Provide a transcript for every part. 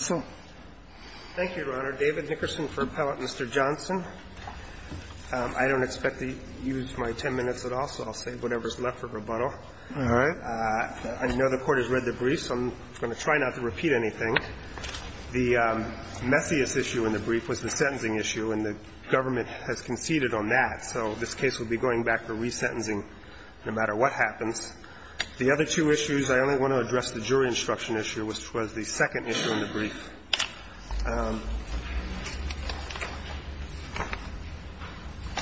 I don't expect to use my 10 minutes at all, so I'll save whatever's left for rebuttal. I know the Court has read the brief, so I'm going to try not to repeat anything. The messiest issue in the brief was the sentencing issue, and the government has conceded on that. So this case will be going back to resentencing no matter what happens. The other two issues, I only want to address the jury instruction issue, which was the second issue in the brief.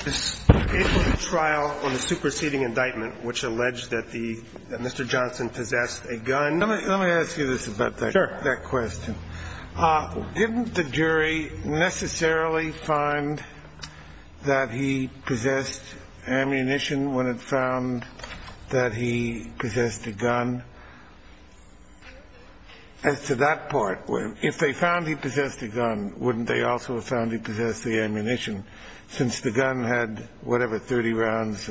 It was a trial on the superseding indictment, which alleged that the Mr. Johnson possessed a gun. Let me ask you this about that question. Didn't the jury necessarily find that he possessed ammunition when it found that he possessed a gun? As to that part, if they found he possessed a gun, wouldn't they also have found he possessed the ammunition, since the gun had whatever, 30 rounds?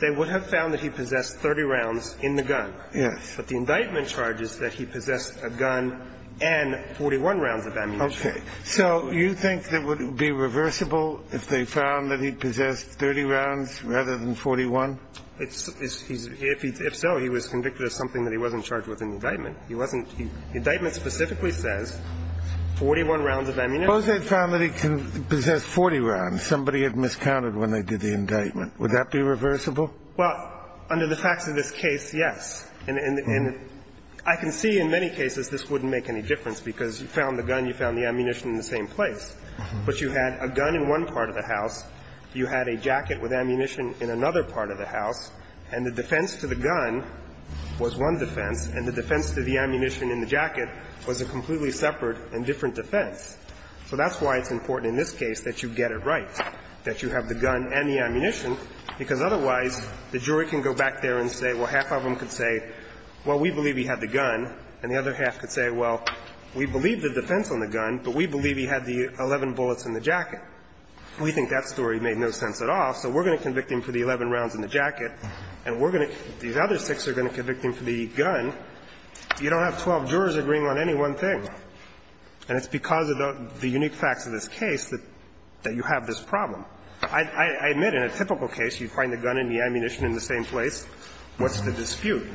They would have found that he possessed 30 rounds in the gun. Yes. But the indictment charges that he possessed a gun and 41 rounds of ammunition. Okay. So you think that it would be reversible if they found that he possessed 30 rounds rather than 41? If so, he was convicted of something that he wasn't charged with in the indictment. He wasn't he the indictment specifically says 41 rounds of ammunition. Suppose they found that he possessed 40 rounds. Somebody had miscounted when they did the indictment. Would that be reversible? Well, under the facts of this case, yes. And I can see in many cases this wouldn't make any difference, because you found the gun, you found the ammunition in the same place. But you had a gun in one part of the house, you had a jacket with ammunition in another part of the house, and the defense to the gun was one defense, and the defense to the ammunition in the jacket was a completely separate and different defense. So that's why it's important in this case that you get it right, that you have the gun and the ammunition, because otherwise the jury can go back there and say, well, half of them could say, well, we believe he had the gun, and the other half could say, well, we believe the defense on the gun, but we believe he had the 11 bullets in the jacket. We think that story made no sense at all. So we're going to convict him for the 11 rounds in the jacket, and we're going to – these other six are going to convict him for the gun. You don't have 12 jurors agreeing on any one thing. And it's because of the unique facts of this case that you have this problem. I admit, in a typical case, you find the gun and the ammunition in the same place. What's the dispute?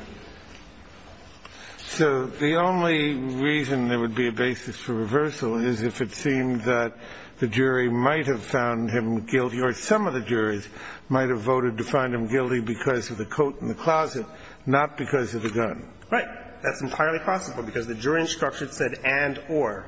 So the only reason there would be a basis for reversal is if it seemed that the jury might have found him guilty, or some of the juries might have voted to find him guilty because of the coat in the closet, not because of the gun. Right. That's entirely possible, because the jury instruction said and, or.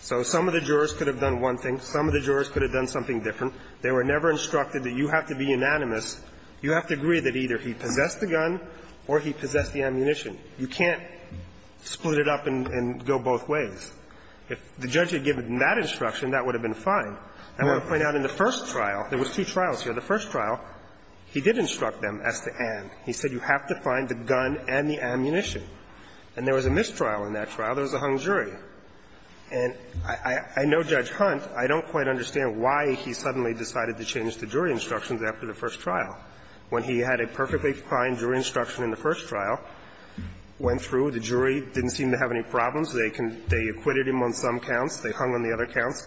So some of the jurors could have done one thing, some of the jurors could have done something different. They were never instructed that you have to be unanimous, you have to agree that either he possessed the gun or he possessed the ammunition. You can't split it up and go both ways. If the judge had given that instruction, that would have been fine. I want to point out in the first trial, there was two trials here. The first trial, he did instruct them as to and. He said you have to find the gun and the ammunition. And there was a mistrial in that trial. There was a hung jury. And I know Judge Hunt. I don't quite understand why he suddenly decided to change the jury instructions after the first trial. When he had a perfectly fine jury instruction in the first trial, went through, the jury didn't seem to have any problems. They acquitted him on some counts, they hung on the other counts.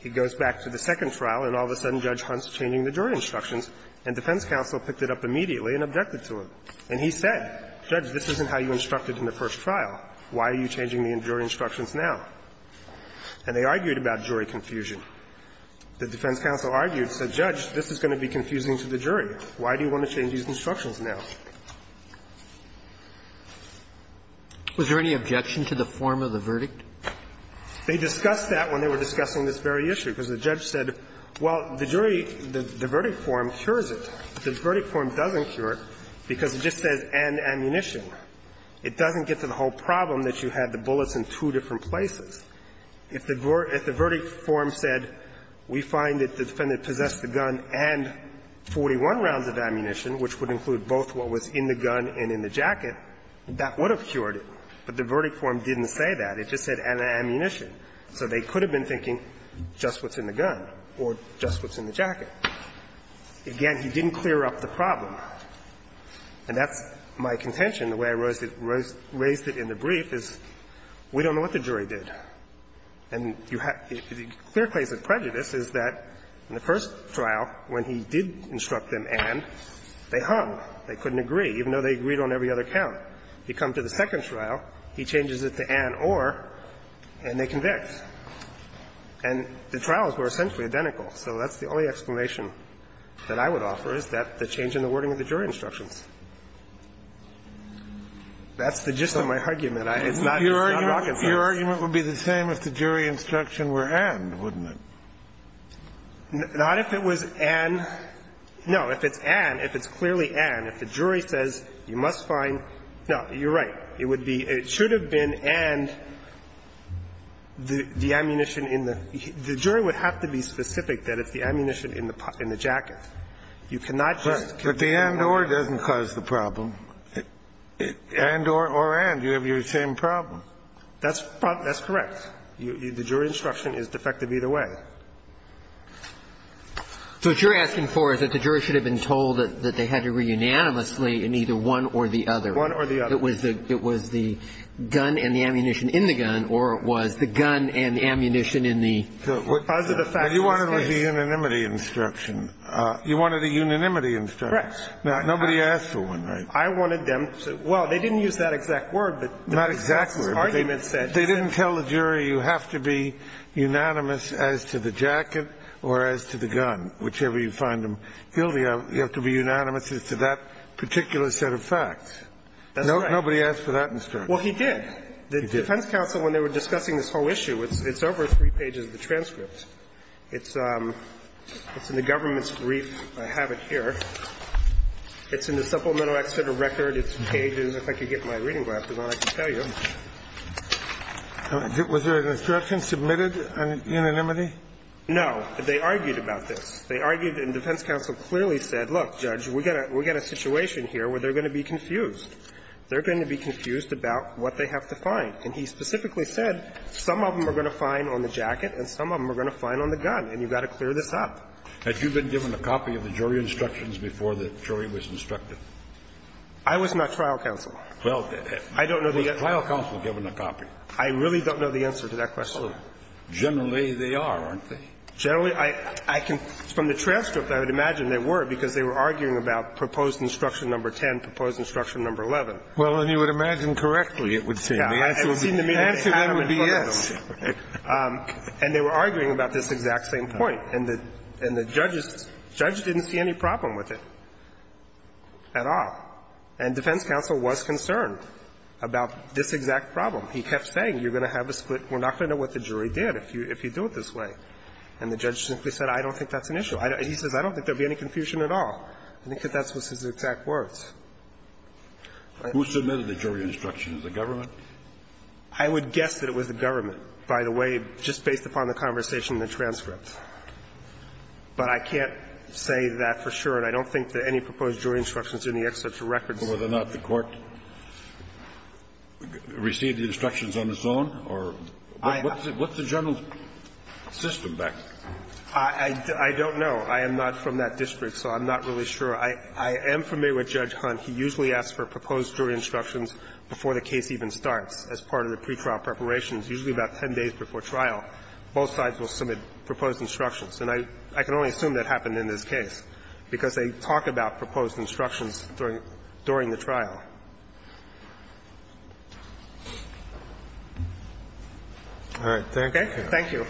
He goes back to the second trial, and all of a sudden Judge Hunt's changing the jury instructions, and defense counsel picked it up immediately and objected to it. And he said, Judge, this isn't how you instructed in the first trial. Why are you changing the jury instructions now? And they argued about jury confusion. The defense counsel argued, said, Judge, this is going to be confusing to the jury. Why do you want to change these instructions now? Was there any objection to the form of the verdict? They discussed that when they were discussing this very issue, because the judge said, well, the jury, the verdict form cures it. The verdict form doesn't cure it, because it just says, and ammunition. It doesn't get to the whole problem that you had the bullets in two different places. If the verdict form said, we find that the defendant possessed the gun and 41 rounds of ammunition, which would include both what was in the gun and in the jacket, that would have cured it. But the verdict form didn't say that. It just said, and ammunition. So they could have been thinking just what's in the gun or just what's in the jacket. Again, he didn't clear up the problem. And that's my contention. The way I raised it in the brief is we don't know what the jury did. And you have the clear case of prejudice is that in the first trial, when he did instruct them, and, they hung. They couldn't agree, even though they agreed on every other count. You come to the second trial, he changes it to and, or, and they convict. And the trials were essentially identical. So that's the only explanation that I would offer, is that the change in the wording of the jury instructions. That's the gist of my argument. It's not rocket science. Your argument would be the same if the jury instruction were and, wouldn't it? Not if it was and. No. If it's and, if it's clearly and, if the jury says you must find no, you're right. It would be, it should have been and the ammunition in the the jury would have to be specific that it's the ammunition in the in the jacket. You cannot just. But the and, or doesn't cause the problem. And, or, or, and, you have your same problem. That's that's correct. The jury instruction is defective either way. So what you're asking for is that the jury should have been told that they had to agree unanimously in either one or the other. One or the other. It was the it was the gun and the ammunition in the gun or it was the gun and the ammunition in the. Those are the facts. You wanted a unanimity instruction. You wanted a unanimity instruction. Correct. Now, nobody asked for one, right? I wanted them to, well, they didn't use that exact word, but. Not exact word. They didn't tell the jury you have to be unanimous as to the jacket or as to the gun, whichever you find them guilty of. You have to be unanimous as to that particular set of facts. That's right. Nobody asked for that instruction. Well, he did. He did. The defense counsel, when they were discussing this whole issue, it's over three pages of the transcript. It's in the government's brief. I have it here. It's in the supplemental exceded record. It's paged, and if I could get my reading glasses on, I can tell you. Was there an instruction submitted on unanimity? No. They argued about this. They argued, and defense counsel clearly said, look, Judge, we got a situation here where they're going to be confused. They're going to be confused about what they have to find. And he specifically said some of them are going to find on the jacket and some of them are going to find on the gun, and you've got to clear this up. Had you been given a copy of the jury instructions before the jury was instructed? I was not trial counsel. Well, did it? I don't know the answer. Was trial counsel given a copy? I really don't know the answer to that question. Generally, they are, aren't they? Generally, I can – from the transcript, I would imagine they were, because they were arguing about proposed instruction number 10, proposed instruction number 11. Well, then you would imagine correctly it would seem. The answer would be yes. And they were arguing about this exact same point. And the judge didn't see any problem with it at all. And defense counsel was concerned about this exact problem. He kept saying, you're going to have a split. We're not going to know what the jury did if you do it this way. And the judge simply said, I don't think that's an issue. He says, I don't think there will be any confusion at all. I think that's what his exact words. Who submitted the jury instructions? The government? I would guess that it was the government, by the way, just based upon the conversation in the transcript. But I can't say that for sure, and I don't think that any proposed jury instructions in the excerpt to records. Kennedy, whether or not the court received the instructions on its own or what's the general system back there? I don't know. I am not from that district, so I'm not really sure. I am familiar with Judge Hunt. He usually asks for proposed jury instructions before the case even starts as part of the pretrial preparations, usually about 10 days before trial. Both sides will submit proposed instructions. And I can only assume that happened in this case, because they talk about proposed instructions during the trial. All right. Thank you. Thank you.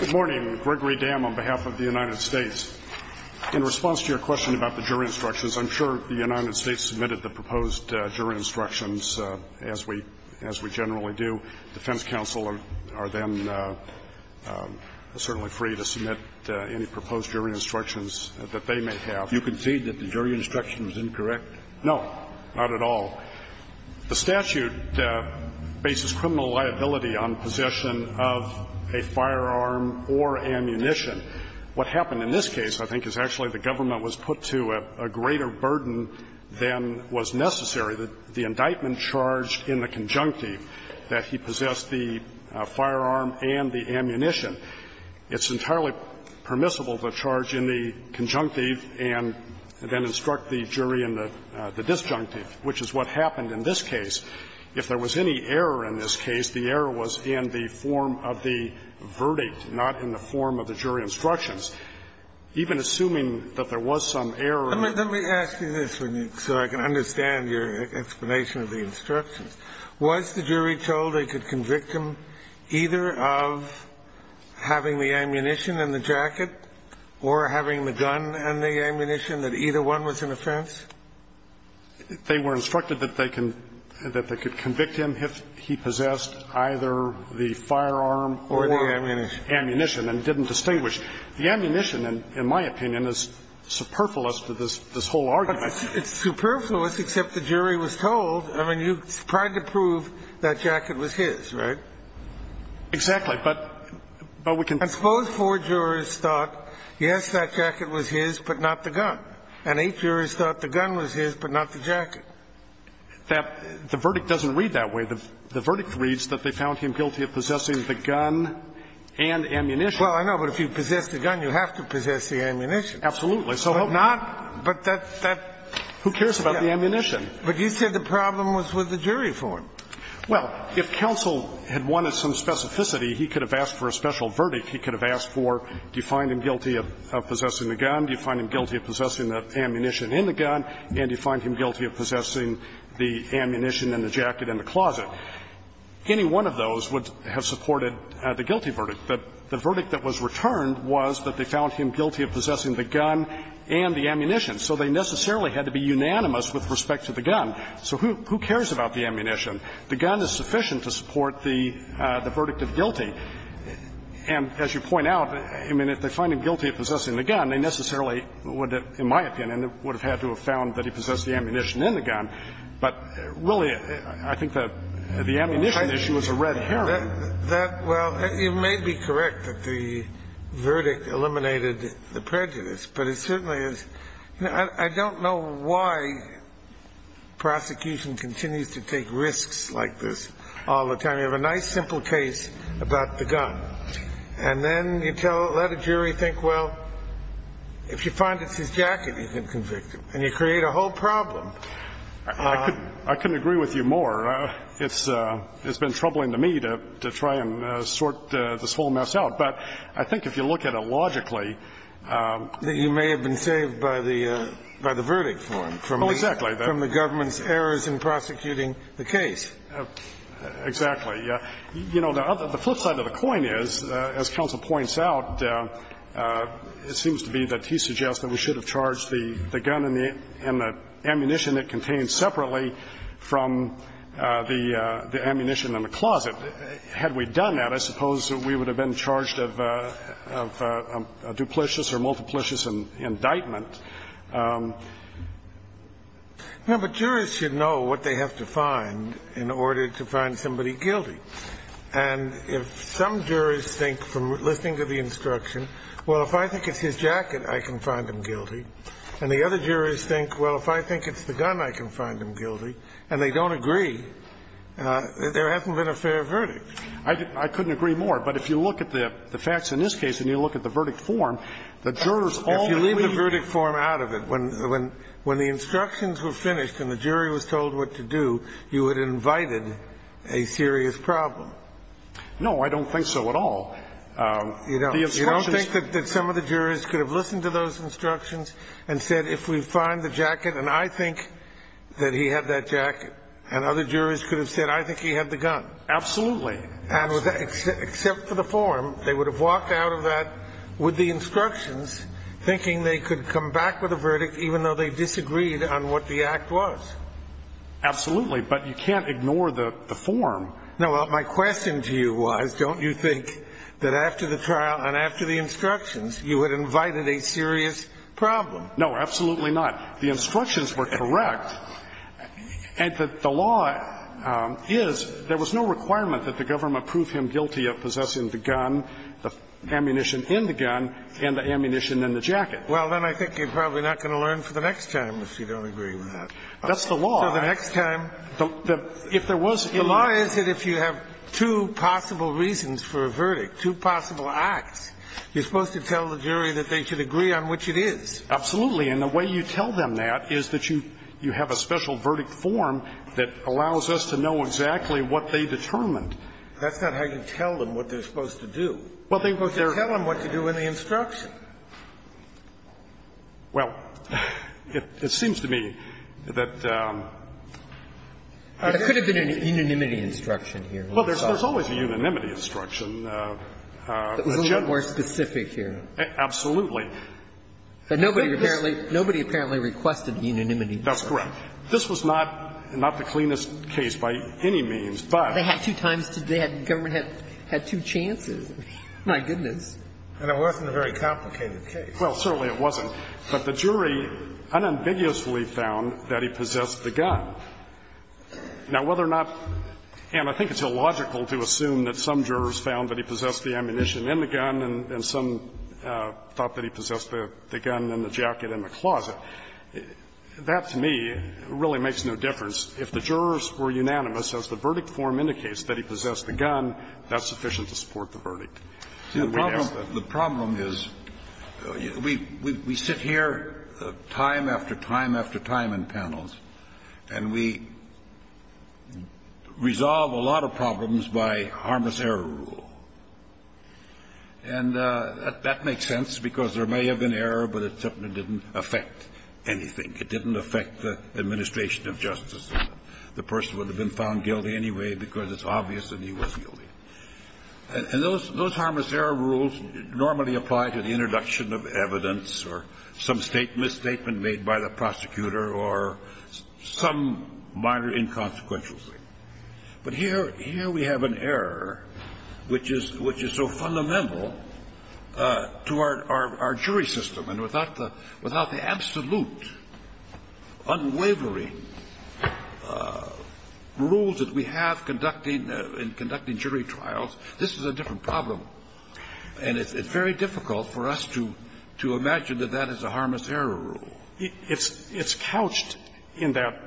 Good morning. Gregory Dam on behalf of the United States. In response to your question about the jury instructions, I'm sure the United States submitted the proposed jury instructions as we generally do. The defense counsel are then certainly free to submit any proposed jury instructions that they may have. You concede that the jury instruction was incorrect? No, not at all. The statute bases criminal liability on possession of a firearm or ammunition. What happened in this case, I think, is actually the government was put to a greater burden than was necessary. The indictment charged in the conjunctive that he possessed the firearm and the ammunition. It's entirely permissible to charge in the conjunctive and then instruct the jury in the disjunctive, which is what happened in this case. If there was any error in this case, the error was in the form of the verdict, not in the form of the jury instructions. Even assuming that there was some error in the verdict. So I can understand your explanation of the instructions. Was the jury told they could convict him either of having the ammunition and the jacket or having the gun and the ammunition, that either one was an offense? They were instructed that they can – that they could convict him if he possessed either the firearm or the ammunition and didn't distinguish. The ammunition, in my opinion, is superfluous to this whole argument. It's superfluous, except the jury was told. I mean, you tried to prove that jacket was his, right? Exactly. But we can – And suppose four jurors thought, yes, that jacket was his, but not the gun. And eight jurors thought the gun was his, but not the jacket. That – the verdict doesn't read that way. The verdict reads that they found him guilty of possessing the gun and ammunition. Well, I know, but if you possess the gun, you have to possess the ammunition. Absolutely. But not – but that's – that's – Who cares about the ammunition? But you said the problem was with the jury form. Well, if counsel had wanted some specificity, he could have asked for a special verdict. He could have asked for, do you find him guilty of possessing the gun, do you find him guilty of possessing the ammunition in the gun, and do you find him guilty of possessing the ammunition and the jacket in the closet? Any one of those would have supported the guilty verdict. But the verdict that was returned was that they found him guilty of possessing the gun and the ammunition. So they necessarily had to be unanimous with respect to the gun. So who – who cares about the ammunition? The gun is sufficient to support the – the verdict of guilty. And as you point out, I mean, if they find him guilty of possessing the gun, they necessarily would have, in my opinion, would have had to have found that he possessed the ammunition in the gun. But really, I think that the ammunition issue is a red herring. That – well, it may be correct that the verdict eliminated the prejudice, but it certainly is – I don't know why prosecution continues to take risks like this all the time. You have a nice, simple case about the gun, and then you tell – let a jury think, well, if you find it's his jacket, you can convict him, and you create a whole problem. I couldn't agree with you more. It's been troubling to me to try and sort this whole mess out. But I think if you look at it logically – That you may have been saved by the – by the verdict for him, from the government's errors in prosecuting the case. Exactly. You know, the flip side of the coin is, as counsel points out, it seems to be that he suggests that we should have charged the gun and the ammunition it contains separately from the ammunition in the closet. Had we done that, I suppose we would have been charged of a duplicious or multiplicious indictment. No, but jurors should know what they have to find in order to find somebody guilty. And if some jurors think, from listening to the instruction, well, if I think it's his jacket, I can find him guilty, and the other jurors think, well, if I think it's the gun, I can find him guilty, and they don't agree, there hasn't been a fair verdict. I couldn't agree more. But if you look at the facts in this case and you look at the verdict form, the jurors all agree – If you leave the verdict form out of it, when the instructions were finished and the jury was told what to do, you had invited a serious problem. No, I don't think so at all. The instructions – You don't think that some of the jurors could have listened to those instructions and said, if we find the jacket, and I think that he had that jacket, and other jurors could have said, I think he had the gun. Absolutely. And with that, except for the form, they would have walked out of that with the instructions, thinking they could come back with a verdict even though they disagreed on what the act was. Absolutely, but you can't ignore the form. No, well, my question to you was, don't you think that after the trial and after the trial and after the trial and after the trial and after the trial, that there was no requirement that the government prove him guilty of possessing the gun, the ammunition in the gun, and the ammunition in the jacket? Well, then I think you're probably not going to learn for the next time if you don't agree with that. That's the law. So the next time – If there was – The law is that if you have two possible reasons for a verdict, two possible acts, you're supposed to tell the jury that they should agree on which it is. Absolutely. And the way you tell them that is that you have a special verdict form that allows us to know exactly what they determined. That's not how you tell them what they're supposed to do. Well, they're supposed to tell them what to do in the instruction. Well, it seems to me that – But it could have been an unanimity instruction here. Well, there's always a unanimity instruction. That was a little more specific here. Absolutely. But nobody apparently – nobody apparently requested unanimity. That's correct. This was not the cleanest case by any means, but – They had two times – the government had two chances. My goodness. And it wasn't a very complicated case. Well, certainly it wasn't. But the jury unambiguously found that he possessed the gun. Now, whether or not – and I think it's illogical to assume that some jurors found that he possessed the ammunition in the gun and some thought that he possessed the gun in the jacket in the closet. That, to me, really makes no difference. If the jurors were unanimous, as the verdict form indicates, that he possessed the gun, that's sufficient to support the verdict. The problem is, we sit here time after time after time in panels, and we've got a jury that's been in the room for a long time, and we've got a jury that's been in the room for a long time, and we've got a jury that's been in the room for a long time, and we resolve a lot of problems by harmless error rule. And that makes sense because there may have been error, but it certainly didn't affect anything. It didn't affect the administration of justice. The person would have been found guilty anyway because it's obvious that he was guilty. And those harmless error rules normally apply to the introduction of evidence or some statement, misstatement made by the prosecutor or some minor inconsequential thing. But here we have an error which is so fundamental to our jury system. And without the absolute, unwavering rules that we have conducting in conducting jury trials, this is a different problem. And it's very difficult for us to imagine that that is a harmless error rule. It's couched in that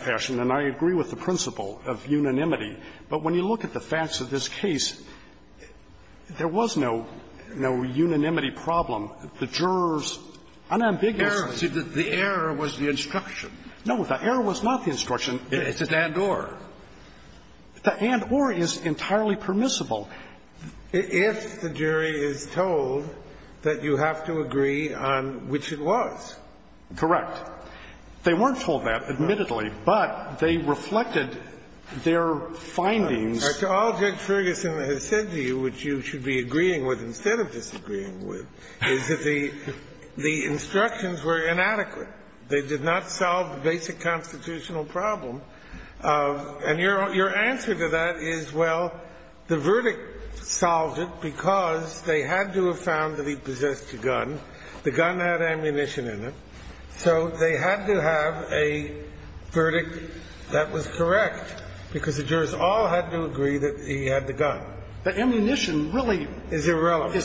fashion, and I agree with the principle of unanimity. But when you look at the facts of this case, there was no unanimity problem. The jurors unambiguously said that the error was the instruction. No, the error was not the instruction. It's an and-or. The and-or is entirely permissible. If the jury is told that you have to agree on which it was. Correct. They weren't told that, admittedly, but they reflected their findings. To all Judge Ferguson has said to you, which you should be agreeing with instead of disagreeing with, is that the instructions were inadequate. They did not solve the basic constitutional problem. And your answer to that is, well, the verdict solved it because they had to have found that he possessed a gun, the gun had ammunition in it, so they had to have a verdict that was correct, because the jurors all had to agree that he had the gun. But ammunition really is irrelevant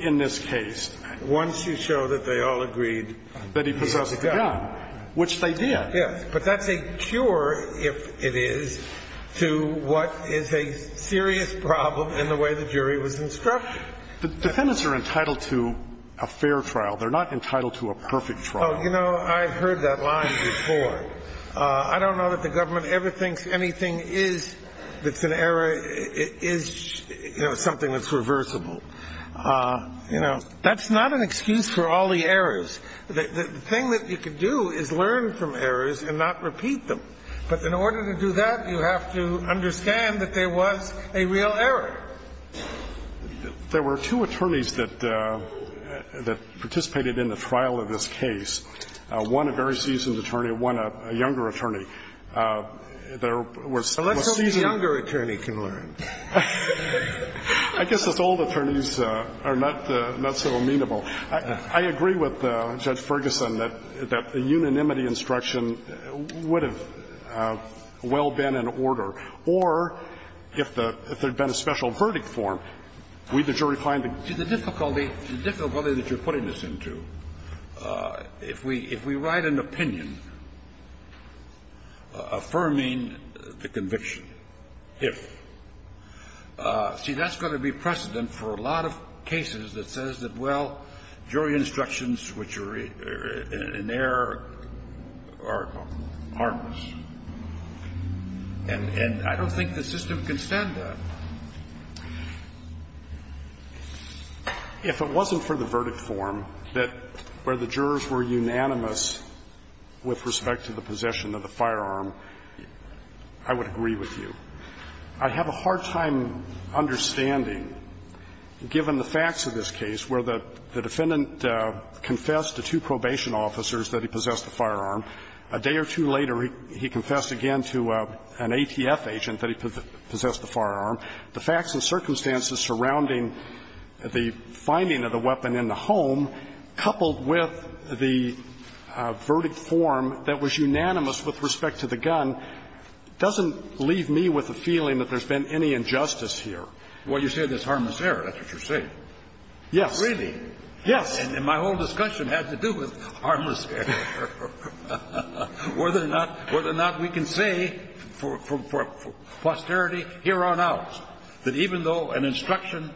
in this case. Once you show that they all agreed that he possessed the gun, which they did. Yes. But that's a cure, if it is, to what is a serious problem in the way the jury was instructed. The defendants are entitled to a fair trial. They're not entitled to a perfect trial. Well, you know, I've heard that line before. I don't know that the government ever thinks anything is an error is something that's reversible. You know, that's not an excuse for all the errors. The thing that you can do is learn from errors and not repeat them. But in order to do that, you have to understand that there was a real error. There were two attorneys that participated in the trial of this case, one a very seasoned attorney, one a younger attorney. There was a seasoned attorney. So let's hope the younger attorney can learn. I guess it's old attorneys are not so amenable. I agree with Judge Ferguson that the unanimity instruction would have well been in order. But I don't think it would have been in order if there had been a special verdict form. Or if there had been a special verdict form, we, the jury, find the grounds. Scalia. See, the difficulty, the difficulty that you're putting this into, if we write an opinion affirming the conviction, if, see, that's going to be precedent for a lot of cases that says that, well, jury instructions which are in error are harmless. And I don't think the system can stand that. If it wasn't for the verdict form that where the jurors were unanimous with respect to the possession of the firearm, I would agree with you. I have a hard time understanding, given the facts of this case, where the defendant confessed to two probation officers that he possessed the firearm. A day or two later, he confessed again to an ATF agent that he possessed the firearm. The facts and circumstances surrounding the finding of the weapon in the home, coupled with the verdict form that was unanimous with respect to the gun, doesn't leave me with a feeling that there's been any injustice here. Well, you say there's harmless error. That's what you're saying. Yes. Really? Yes. And my whole discussion has to do with harmless error, whether or not we can say for posterity, hereon out, that even though an instruction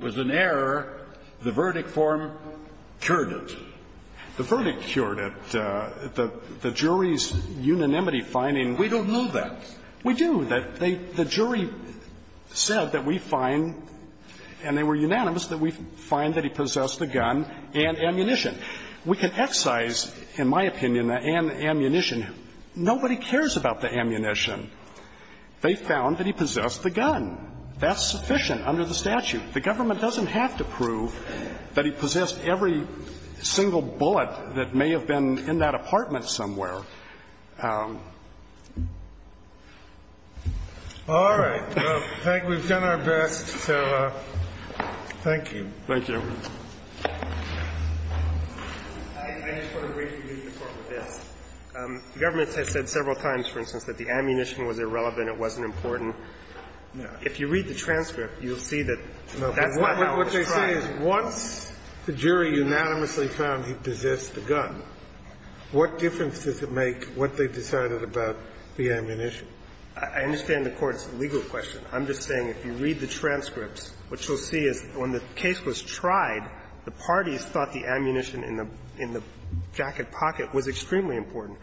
was in error, the verdict form cured it. The verdict cured it. The jury's unanimity finding we don't know that. We do. The jury said that we find, and they were unanimous, that we find that he possessed the gun and ammunition. We can excise, in my opinion, the ammunition. Nobody cares about the ammunition. They found that he possessed the gun. That's sufficient under the statute. The government doesn't have to prove that he possessed every single bullet that may have been in that apartment somewhere. All right. Well, I think we've done our best, so thank you. Thank you. I just want to briefly leave the Court with this. The government has said several times, for instance, that the ammunition was irrelevant, it wasn't important. If you read the transcript, you'll see that that's not how it was tried. No, but what they say is once the jury unanimously found he possessed the gun, what difference does it make? What they decided about the ammunition. I understand the Court's legal question. I'm just saying, if you read the transcripts, what you'll see is when the case was tried, the parties thought the ammunition in the jacket pocket was extremely important.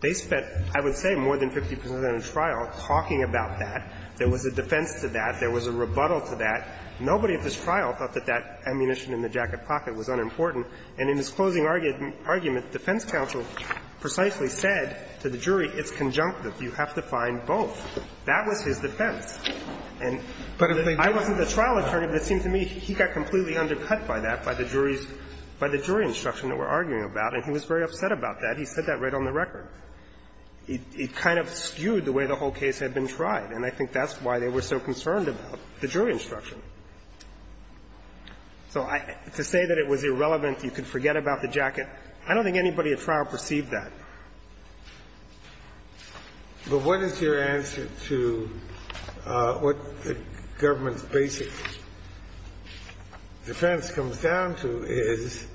They spent, I would say, more than 50 percent of the trial talking about that. There was a defense to that. There was a rebuttal to that. Nobody at this trial thought that that ammunition in the jacket pocket was unimportant. And in his closing argument, defense counsel precisely said to the jury, it's conjunctive. You have to find both. That was his defense. And I wasn't the trial attorney, but it seemed to me he got completely undercut by that, by the jury's, by the jury instruction that we're arguing about, and he was very upset about that. He said that right on the record. It kind of skewed the way the whole case had been tried. And I think that's why they were so concerned about the jury instruction. So to say that it was irrelevant, you could forget about the jacket, I don't think anybody at trial perceived that. But what is your answer to what the government's basic defense comes down to is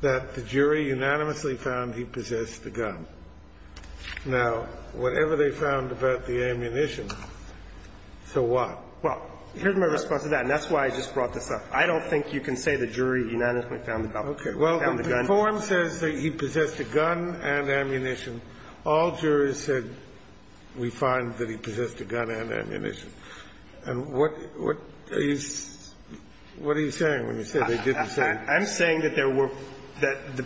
that the jury unanimously found he possessed the gun. Now, whatever they found about the ammunition, so what? Well, here's my response to that, and that's why I just brought this up. I don't think you can say the jury unanimously found the gun. Okay. Well, the form says that he possessed a gun and ammunition. All jurors said we find that he possessed a gun and ammunition. And what are you saying when you say they didn't say? I'm saying that there were the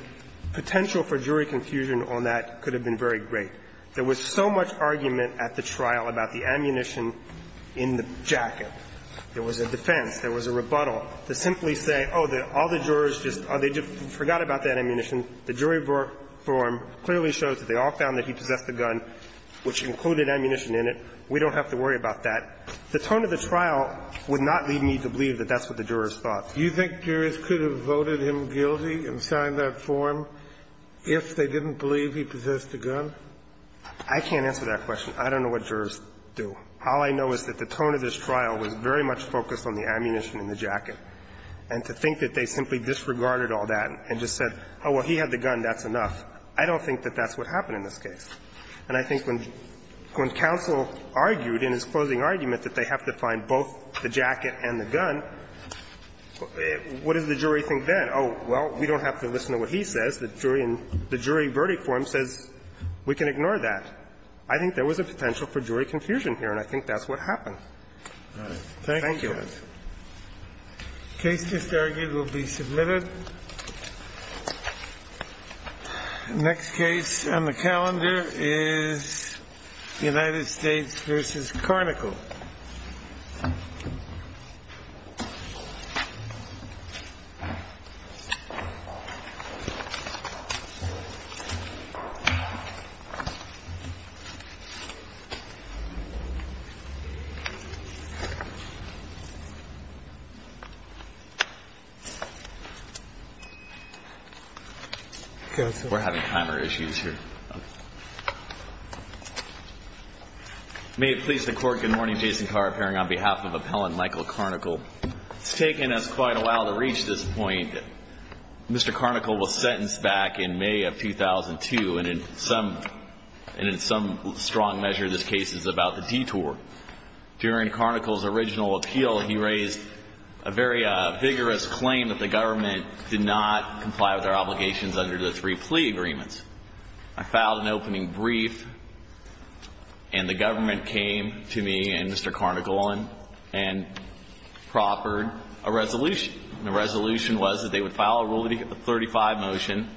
potential for jury confusion on that could have been very great. There was so much argument at the trial about the ammunition in the jacket. There was a defense. There was a rebuttal to simply say, oh, all the jurors just forgot about that ammunition. The jury form clearly shows that they all found that he possessed the gun, which included ammunition in it. We don't have to worry about that. The tone of the trial would not lead me to believe that that's what the jurors thought. Do you think jurors could have voted him guilty and signed that form if they didn't believe he possessed the gun? I can't answer that question. I don't know what jurors do. All I know is that the tone of this trial was very much focused on the ammunition in the jacket, and to think that they simply disregarded all that and just said, oh, well, he had the gun, that's enough. I don't think that that's what happened in this case. And I think when counsel argued in his closing argument that they have to find both the jacket and the gun, what does the jury think then? The jury said, oh, well, we don't have to listen to what he says. The jury in the jury verdict form says we can ignore that. I think there was a potential for jury confusion here, and I think that's what happened. Thank you. Thank you. The case just argued will be submitted. The next case on the calendar is United States v. Carnical. We're having timer issues here. May it please the Court, good morning. Jason Carr, appearing on behalf of Appellant Michael Carnical. It's taken us quite a while to reach this point. Mr. Carnical was sentenced back in May of 2002, and in some strong measure, this case is about the detour. During Carnical's original appeal, he raised a very vigorous claim that the government did not comply with our obligations under the three plea agreements. I filed an opening brief, and the government came to me and Mr. Carnical and proffered a resolution. The resolution was that they would file a Rule 35 motion.